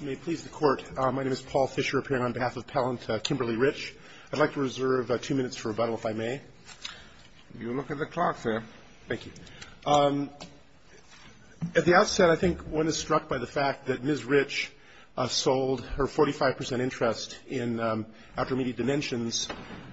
I'd like to reserve two minutes for rebuttal, if I may. You look at the clock, sir. Thank you. At the outset, I think one is struck by the fact that Ms. Rich sold her 45 percent interest in after immediate dimensions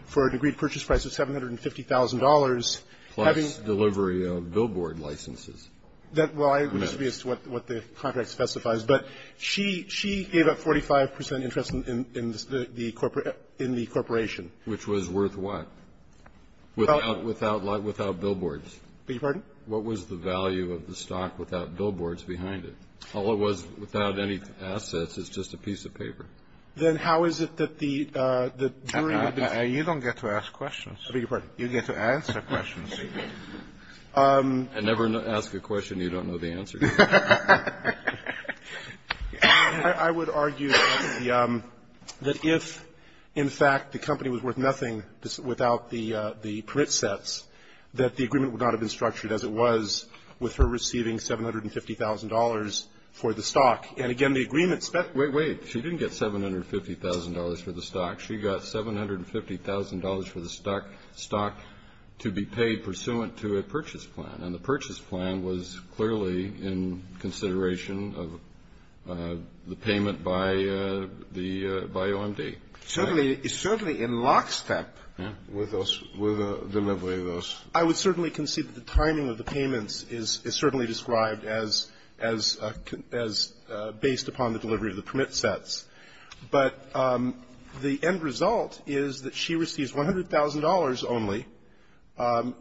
for an agreed purchase price of $750,000, having- Plus delivery of billboard licenses. That's what the contract specifies, but she gave up 45 percent interest in the corporation. Which was worth what? Without billboards. Beg your pardon? What was the value of the stock without billboards behind it? All it was without any assets is just a piece of paper. Then how is it that the jury- You don't get to ask questions. Beg your pardon? You don't get to ask a question, do you? I never ask a question you don't know the answer to. I would argue that if, in fact, the company was worth nothing without the permit sets, that the agreement would not have been structured as it was with her receiving $750,000 for the stock. And again, the agreement spent- Wait, wait. She didn't get $750,000 for the stock. She got $750,000 for the stock to be paid pursuant to a purchase plan. And the purchase plan was clearly in consideration of the payment by the OMD. Certainly, in lockstep with the delivery of those- I would certainly concede that the timing of the payments is certainly described as based upon the delivery of the permit sets. But the end result is that she receives $100,000 only.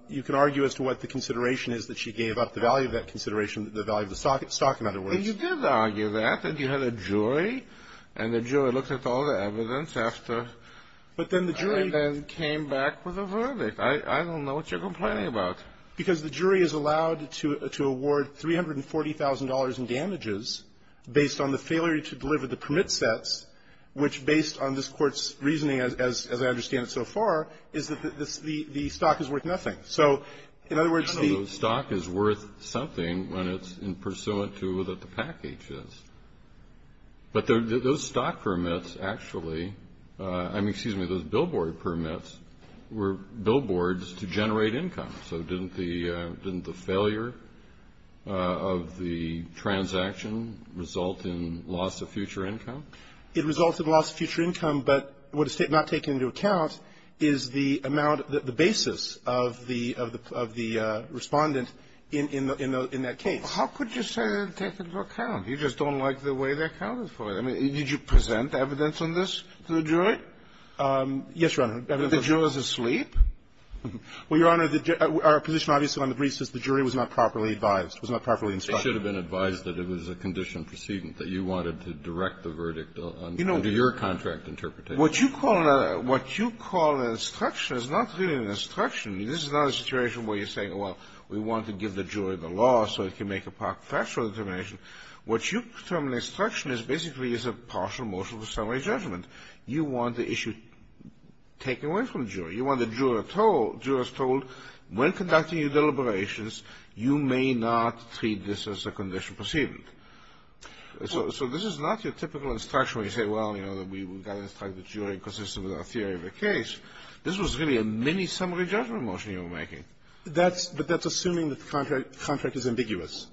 You can argue as to what the consideration is that she gave up the value of that consideration, the value of the stock, in other words. But you did argue that, that you had a jury, and the jury looked at all the evidence after- But then the jury- And then came back with a verdict. I don't know what you're complaining about. Because the jury is allowed to award $340,000 in damages based on the failure to deliver the permit sets, which based on this Court's reasoning, as I understand it so far, is that the stock is worth nothing. So, in other words, the- I know the stock is worth something when it's pursuant to what the package is. But those stock permits actually, I mean, excuse me, those billboard permits were billboards to generate income. So didn't the failure of the transaction result in loss of future income? It resulted in loss of future income. But what it's not taking into account is the amount, the basis of the Respondent in that case. How could you say that it didn't take into account? You just don't like the way they accounted for it. I mean, did you present evidence on this to the jury? Yes, Your Honor. Were the jurors asleep? Well, Your Honor, our position obviously on the briefs is the jury was not properly advised, was not properly instructed. It should have been advised that it was a condition precedent, that you wanted to direct the verdict under your contract interpretation. What you call an instruction is not really an instruction. This is not a situation where you're saying, well, we want to give the jury the law so it can make a factual determination. What you term an instruction is basically is a partial motion to summarize judgment. You want the issue taken away from the jury. You want the jurors told, when conducting your deliberations, you may not treat this as a condition precedent. So this is not your typical instruction where you say, well, you know, we've got to instruct the jury consistent with our theory of the case. This was really a mini-summary judgment motion you were making. But that's assuming that the contract is ambiguous.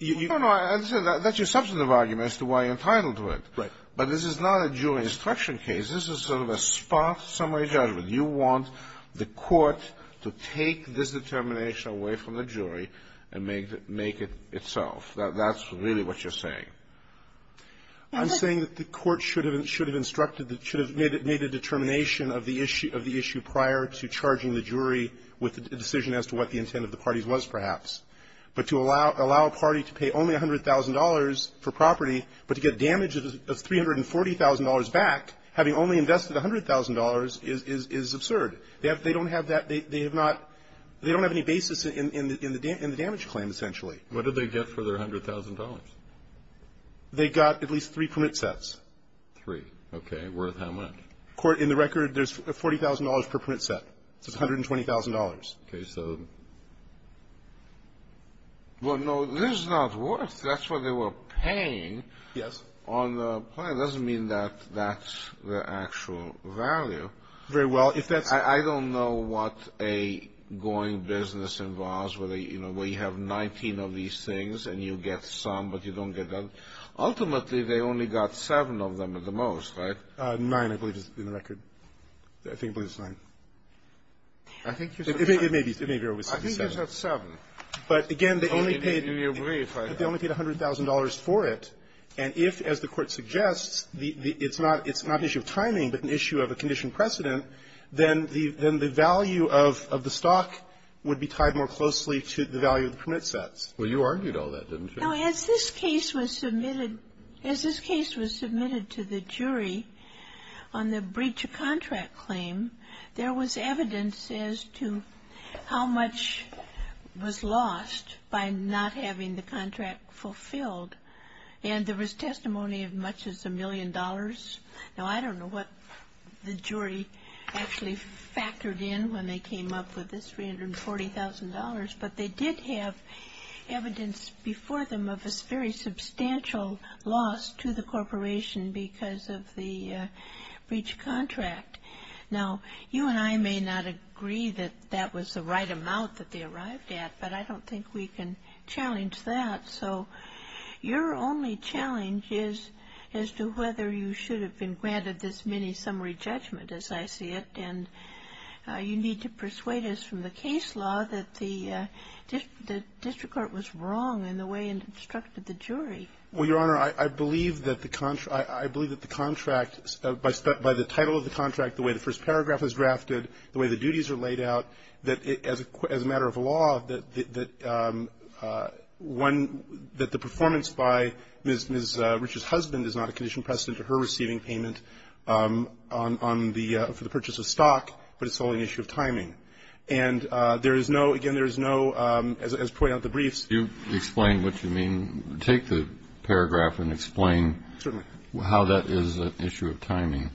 No, no. That's your substantive argument as to why you're entitled to it. Right. But this is not a jury instruction case. This is sort of a sparse summary judgment. You want the court to take this determination away from the jury and make it itself. That's really what you're saying. I'm saying that the court should have instructed, should have made a determination of the issue prior to charging the jury with a decision as to what the intent of the parties was, perhaps. But to allow a party to pay only $100,000 for property, but to get damages of $340,000 back, having only invested $100,000 is absurd. They don't have that. They have not – they don't have any basis in the damage claim, essentially. What did they get for their $100,000? They got at least three permit sets. Three. Okay. Worth how much? In the record, there's $40,000 per permit set. It's $120,000. Okay. So – Well, no, this is not worth. That's what they were paying. Yes. On the plan, it doesn't mean that that's the actual value. Very well. If that's – I don't know what a going business involves where they – you know, where you have 19 of these things, and you get some, but you don't get the other. Ultimately, they only got seven of them at the most, right? Nine, I believe, in the record. I think it was nine. I think you're – It may be. It may be over 67. I think you said seven. But, again, they only paid – Do you agree if I – They only paid $100,000 for it. And if, as the Court suggests, it's not an issue of timing, but an issue of a conditioned precedent, then the value of the stock would be tied more closely to the value of the permit sets. Well, you argued all that, didn't you? Now, as this case was submitted – as this case was submitted to the jury on the breach of contract claim, there was evidence as to how much was lost by not having the contract fulfilled. And there was testimony of much as a million dollars. Now, I don't know what the jury actually factored in when they came up with this $340,000, but they did have evidence before them of a very substantial loss to the corporation because of the breach of contract. Now, you and I may not agree that that was the right amount that they arrived at, but I don't think we can challenge that. So your only challenge is as to whether you should have been granted this mini-summary judgment, as I see it. And you need to persuade us from the case law that the district court was wrong in the way it instructed the jury. Well, Your Honor, I believe that the contract – I believe that the contract – by the title of the contract, the way the first paragraph is drafted, the way the duties are laid out, that as a matter of law, that the performance by Ms. Rich's husband is not a conditioned precedent to her receiving payment on the – for the purchase of stock, but it's solely an issue of timing. And there is no – again, there is no – as pointed out at the briefs – Can you explain what you mean? Take the paragraph and explain how that is an issue of timing.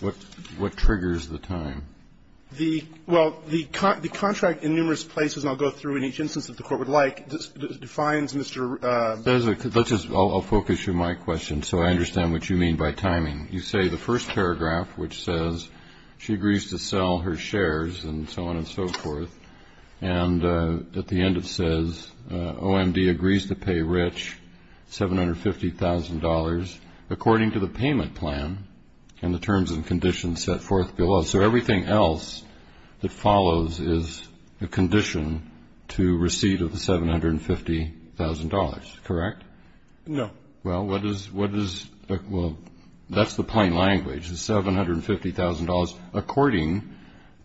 What triggers the time? The – well, the contract in numerous places – and I'll go through in each instance if the Court would like – defines Mr. Let's just – I'll focus you on my question so I understand what you mean by timing. You say the first paragraph, which says she agrees to sell her shares and so on and so forth, and at the end it says, OMD agrees to pay Rich $750,000 according to the payment plan and the terms and conditions set forth below. So everything else that follows is a condition to receipt of the $750,000, correct? No. Well, what is – well, that's the plain language, the $750,000 according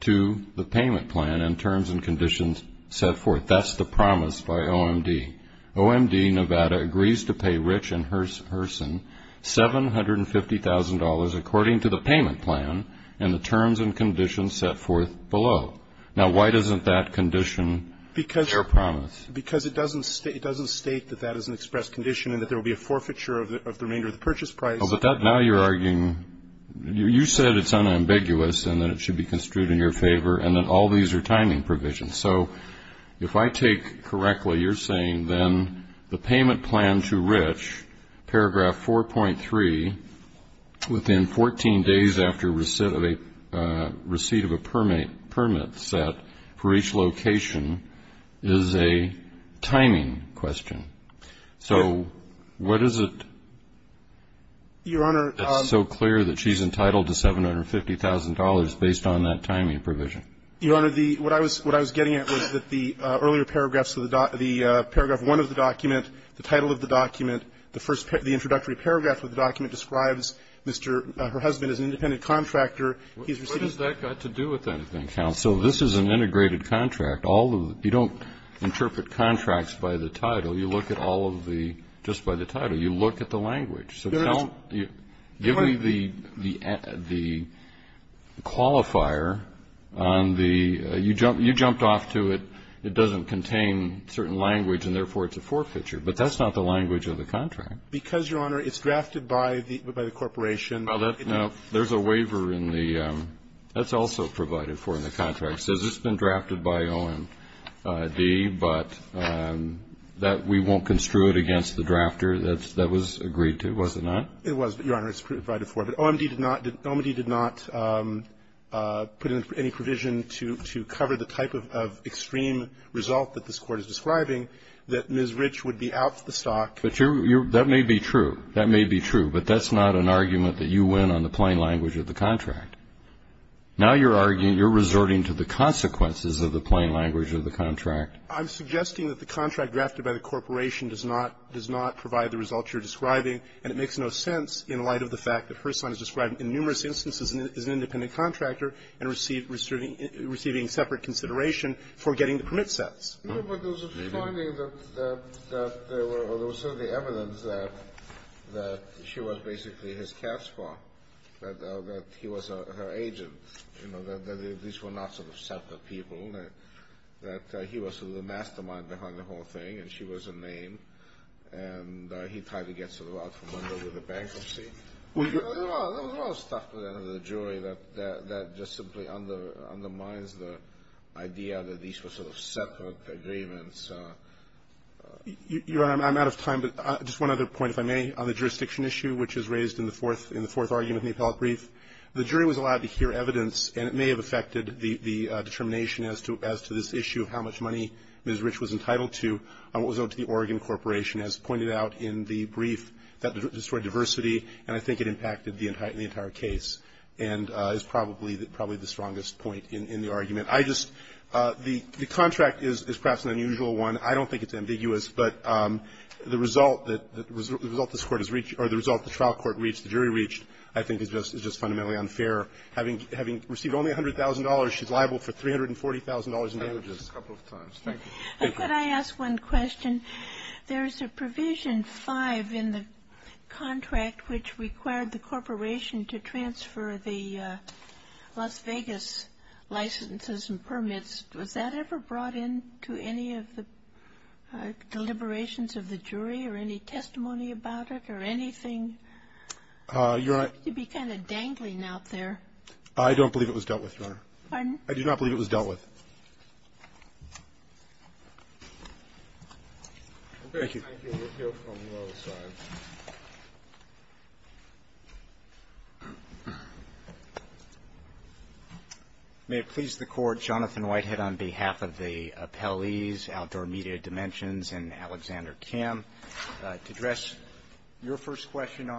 to the payment plan and terms and conditions set forth. That's the promise by OMD. OMD, Nevada, agrees to pay Rich and Herson $750,000 according to the payment plan and the terms and conditions set forth below. Now why doesn't that condition their promise? Because it doesn't state that that is an expressed condition and that there will be a forfeiture of the remainder of the purchase price. Oh, but that – now you're arguing – you said it's unambiguous and that it should be construed in your favor and that all these are timing provisions. So if I take correctly, you're saying then the payment plan to Rich, paragraph 4.3, within 14 days after receipt of a permit set for each location is a timing question. So what is it that's so clear that she's entitled to $750,000 based on the payment plan and that timing provision? Your Honor, the – what I was getting at was that the earlier paragraphs of the – the paragraph 1 of the document, the title of the document, the first – the introductory paragraph of the document describes Mr. – her husband as an independent contractor. He's receiving the permit. What has that got to do with anything, counsel? This is an integrated contract. All of the – you don't interpret contracts by the title. You look at all of the – just by the title. You look at the language. So don't – give me the – the qualifier on the – you jumped off to it, it doesn't contain certain language and, therefore, it's a forfeiture, but that's not the language of the contract. Because, Your Honor, it's drafted by the – by the corporation. Well, that – there's a waiver in the – that's also provided for in the contract. It says it's been drafted by O&D, but that we won't construe it against the drafter. That's – that was agreed to, was it not? It was, but, Your Honor, it's provided for. But O&D did not – O&D did not put in any provision to – to cover the type of – of extreme result that this Court is describing, that Ms. Rich would be out of the stock. But you're – you're – that may be true. That may be true. But that's not an argument that you win on the plain language of the contract. Now you're arguing – you're resorting to the consequences of the plain language of the contract. I'm suggesting that the contract drafted by the corporation does not – does not provide the results you're describing, and it makes no sense in light of the fact that Herson is described in numerous instances as an independent contractor and received – receiving separate consideration for getting the permit sets. No, but there was a finding that – that there were – there was certainly evidence that – that she was basically his cash flow, that he was her agent, you know, that these were not sort of separate people, that he was sort of the mastermind behind the whole thing, and she was a name, and he tried to get sort of out from under with a bankruptcy. There was a lot of stuff at the end of the jury that – that just simply undermines the idea that these were sort of separate agreements. Your Honor, I'm out of time, but just one other point, if I may, on the jurisdiction issue, which is raised in the fourth – in the fourth argument in the appellate brief, the jury was allowed to hear evidence, and it may have affected the – the determination as to – as to this issue of how much money Ms. Rich was entitled to on what was owed to the Oregon Corporation, as pointed out in the brief, that destroyed diversity, and I think it impacted the entire – the entire case, and is probably – probably the strongest point in – in the argument. I just – the – the contract is – is perhaps an unusual one. I don't think it's ambiguous, but the result that – the result this Court has reached – or the result the trial court reached, the jury reached, I think, is just fundamentally unfair. Having – having received only $100,000, she's liable for $340,000 in damages. I've said it a couple of times. Thank you. Thank you. Could I ask one question? There's a provision 5 in the contract which required the Corporation to transfer the Las Vegas licenses and permits. Was that ever brought into any of the deliberations of the jury or any testimony about it or anything? Your Honor – It seems to be kind of dangling out there. I don't believe it was dealt with, Your Honor. Pardon? I do not believe it was dealt with. Thank you. Thank you. We'll hear from the other side. May it please the Court, Jonathan Whitehead on behalf of the appellees, Outdoor Media Dimensions, and Alexander Kim, to address your first question,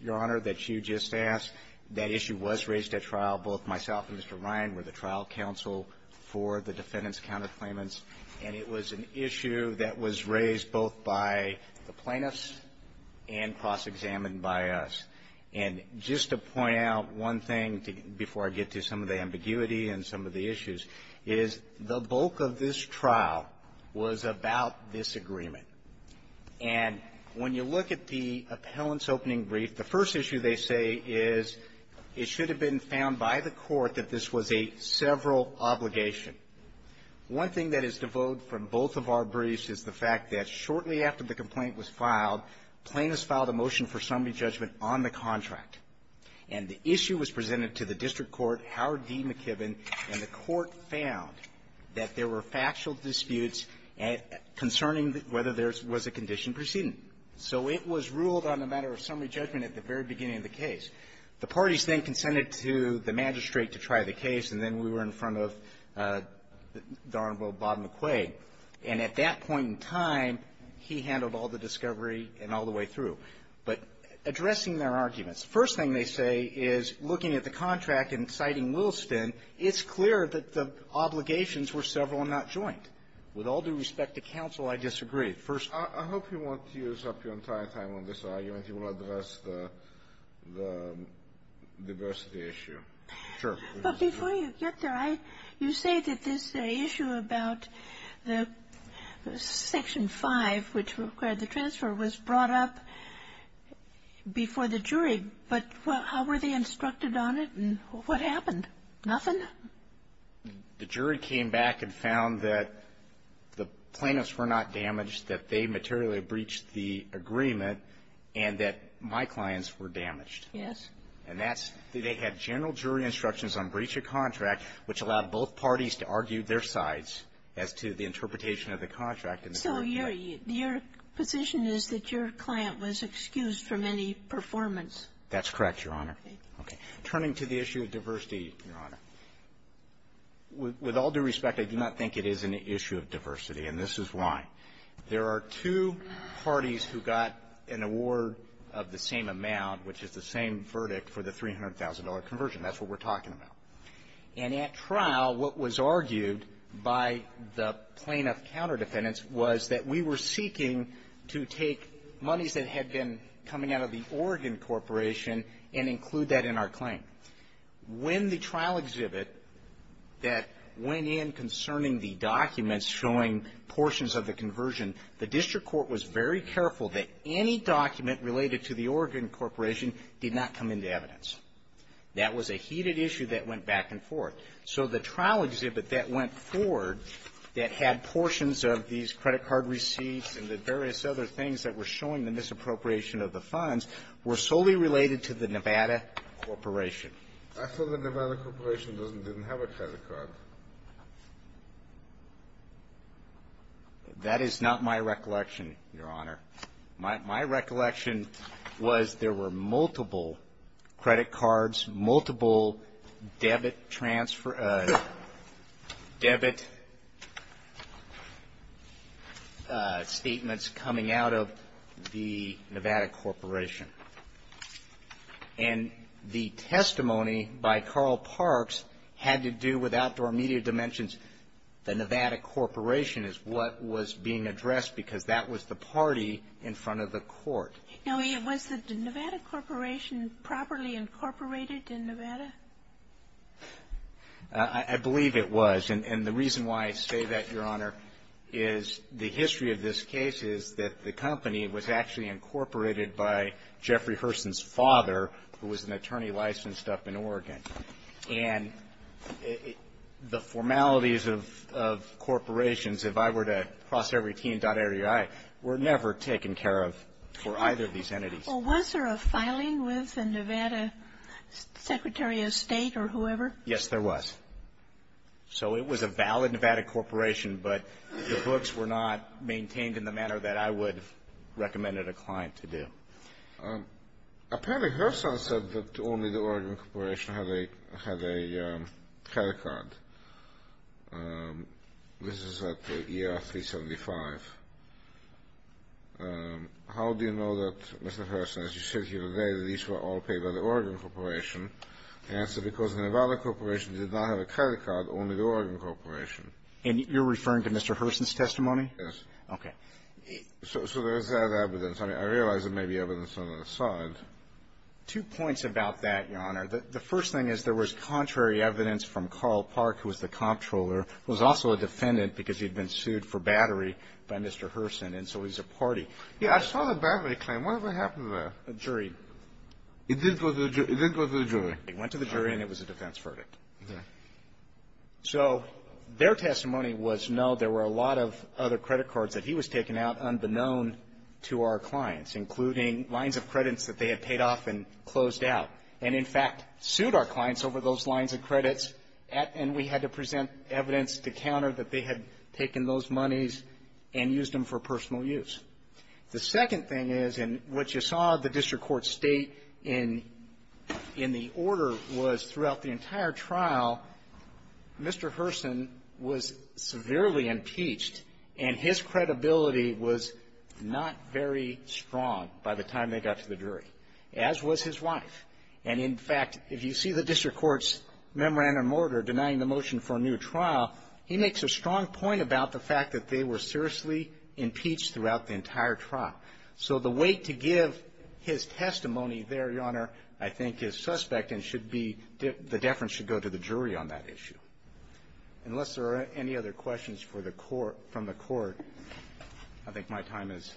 Your Honor, that you just asked. That issue was raised at trial. Both myself and Mr. Ryan were the trial counsel for the defendant's counterclaimants. And it was an issue that was raised both by the plaintiffs and cross-examined by us. And just to point out one thing before I get to some of the ambiguity and some of the issues, is the bulk of this trial was about disagreement. And when you look at the appellant's opening brief, the first issue they say is it should have been found by the Court that this was a several obligation. One thing that is devoted from both of our briefs is the fact that shortly after the complaint was filed, plaintiffs filed a motion for summary judgment on the contract. And the issue was presented to the district court, Howard D. McKibbin, and the court found that there were factual disputes concerning whether there was a condition proceeding. So it was ruled on a matter of summary judgment at the very beginning of the case. The parties then consented to the magistrate to try the case, and then we were in front of the Honorable Bob McQuaid. And at that point in time, he handled all the discovery and all the way through. But addressing their arguments, the first thing they say is, looking at the contract and citing Williston, it's clear that the obligations were several and not joint. With all due respect to counsel, I disagree. First of all, I hope you won't use up your entire time on this argument. You want to address the diversity issue. Sure. But before you get there, I you say that this issue about the Section 5, which required the transfer, was brought up before the jury. But how were they instructed on it? And what happened? Nothing? The jury came back and found that the plaintiffs were not damaged, that they materially breached the agreement, and that my clients were damaged. Yes. And that's they had general jury instructions on breach of contract, which allowed both parties to argue their sides as to the interpretation of the contract. So your position is that your client was excused from any performance? That's correct, Your Honor. Okay. Turning to the issue of diversity, Your Honor, with all due respect, I do not think it is an issue of diversity, and this is why. There are two parties who got an award of the same amount, which is the same verdict for the $300,000 conversion. That's what we're talking about. And at trial, what was argued by the plaintiff counter defendants was that we were seeking to take monies that had been coming out of the Oregon Corporation and include that in our claim. When the trial exhibit that went in concerning the documents showing portions of the conversion, the district court was very careful that any document related to the Oregon Corporation did not come into evidence. That was a heated issue that went back and forth. So the trial exhibit that went forward that had portions of these credit card receipts and the various other things that were showing the misappropriation of the funds were solely related to the Nevada Corporation. I thought the Nevada Corporation didn't have a credit card. That is not my recollection, Your Honor. My recollection was there were multiple credit cards, multiple debit transfer cards, and the testimony by Carl Parks had to do with outdoor media dimensions. The Nevada Corporation is what was being addressed because that was the party in front of the court. Now, was the Nevada Corporation properly incorporated in Nevada? I believe it was. And the reason why I say that, Your Honor, is the history of this case is that the person's father, who was an attorney licensed up in Oregon, and the formalities of corporations, if I were to cross every team, were never taken care of for either of these entities. Well, was there a filing with the Nevada Secretary of State or whoever? Yes, there was. So it was a valid Nevada Corporation, but the books were not maintained in the manner that I would have recommended a client to do. Apparently, Herson said that only the Oregon Corporation had a credit card. This is at ER 375. How do you know that, Mr. Herson, as you said here today, that these were all paid by the Oregon Corporation? The answer is because the Nevada Corporation did not have a credit card, only the Oregon Corporation. And you're referring to Mr. Herson's testimony? Yes. Okay. So there's that evidence. I mean, I realize there may be evidence on the other side. Two points about that, Your Honor. The first thing is there was contrary evidence from Carl Park, who was the comptroller, who was also a defendant because he'd been sued for battery by Mr. Herson, and so he's a party. Yeah, I saw the battery claim. What happened there? A jury. It didn't go to the jury? It went to the jury, and it was a defense verdict. Okay. So their testimony was no. There were a lot of other credit cards that he was taking out unbeknown to our clients, including lines of credits that they had paid off and closed out, and, in fact, sued our clients over those lines of credits, and we had to present evidence to counter that they had taken those monies and used them for personal use. The second thing is, and what you saw the district court state in the order was, throughout the entire trial, Mr. Herson was severely impeached, and his credibility was not very strong by the time they got to the jury, as was his wife. And, in fact, if you see the district court's memorandum order denying the motion for a new trial, he makes a strong point about the fact that they were seriously impeached throughout the entire trial. So the weight to give his testimony there, Your Honor, I think is suspect and should be, the deference should go to the jury on that issue. Unless there are any other questions for the court, from the court, I think my time is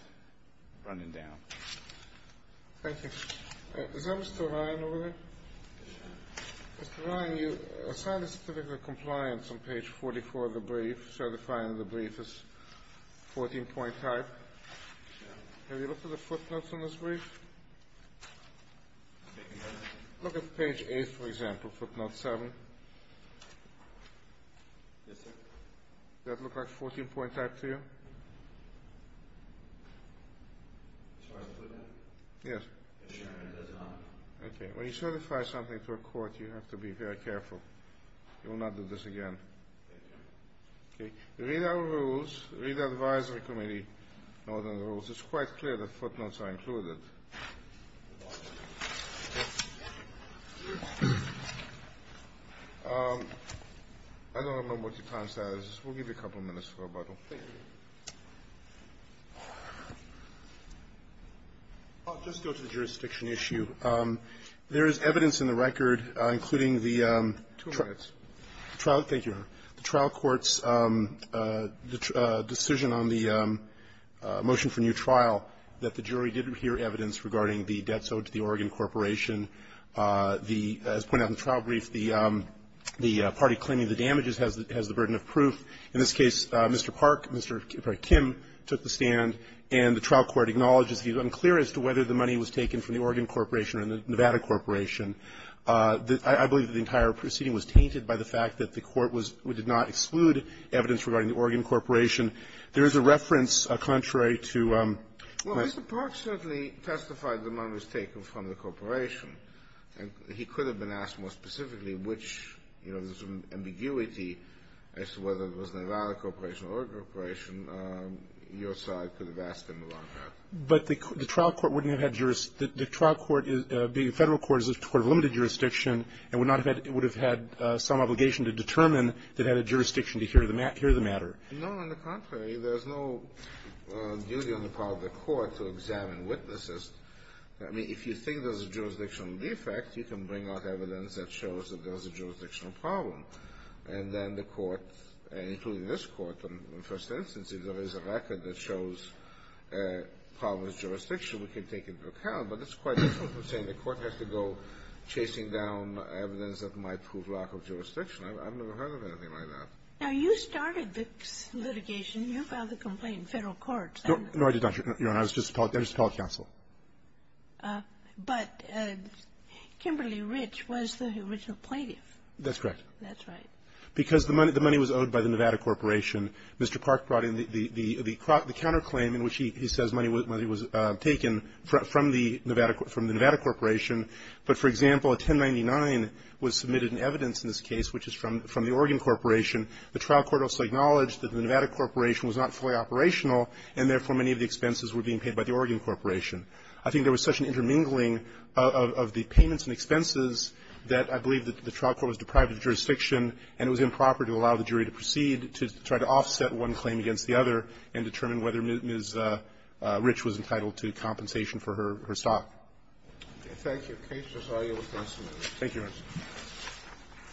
running down. Thank you. Is that Mr. Ryan over there? Mr. Ryan, you assigned a certificate of compliance on page 44 of the brief, certifying the brief as 14-point type. Have you looked at the footnotes on this brief? Look at page 8, for example, footnote 7. Yes, sir. Does that look like 14-point type to you? As far as the footnote? Yes. Yes, Your Honor, it does not. Okay. When you certify something to a court, you have to be very careful. You will not do this again. Thank you, Your Honor. Okay. Read our rules. Read the advisory committee, Northern Rules. It's quite clear that footnotes are included. I don't know what your time status is. We'll give you a couple minutes for rebuttal. Thank you. I'll just go to the jurisdiction issue. There is evidence in the record, including the trial. Two minutes. Thank you, Your Honor. The trial court's decision on the motion for new trial, that the jury did hear evidence regarding the debts owed to the Oregon Corporation. As pointed out in the trial brief, the party claiming the damages has the burden of proof. In this case, Mr. Park, Mr. Kim, took the stand, and the trial court acknowledges the unclear as to whether the money was taken from the Oregon Corporation or the Nevada Corporation. I believe that the entire proceeding was tainted by the fact that the court did not exclude evidence regarding the Oregon Corporation. There is a reference contrary to Mr. Park. Well, Mr. Park certainly testified that money was taken from the corporation. And he could have been asked more specifically which, you know, there's some ambiguity as to whether it was the Nevada Corporation or the Oregon Corporation. Your side could have asked him about that. But the trial court wouldn't have had jurisdiction. The trial court, being a federal court, is a court of limited jurisdiction and would have had some obligation to determine that it had a jurisdiction to hear the matter. No, on the contrary. There's no duty on the part of the court to examine witnesses. I mean, if you think there's a jurisdictional defect, you can bring out evidence that shows that there was a jurisdictional problem. And then the court, including this court, in the first instance, if there is a record that shows a problem with jurisdiction, we can take into account. But that's quite different from saying the court has to go chasing down evidence that might prove lack of jurisdiction. I've never heard of anything like that. Now, you started Vic's litigation. You filed the complaint in federal courts. No, I did not, Your Honor. I was just appellate counsel. But Kimberly Rich was the original plaintiff. That's correct. That's right. Because the money was owed by the Nevada Corporation. Mr. Clark brought in the counterclaim in which he says money was taken from the Nevada Corporation, but, for example, a 1099 was submitted in evidence in this case, which is from the Oregon Corporation. The trial court also acknowledged that the Nevada Corporation was not fully operational, and therefore, many of the expenses were being paid by the Oregon Corporation. I think there was such an intermingling of the payments and expenses that I believe that the trial court was deprived of jurisdiction, and it was improper to allow the court to offset one claim against the other and determine whether Ms. Rich was entitled to compensation for her stock. Okay. Thank you. The case is audio. Thank you, Your Honor.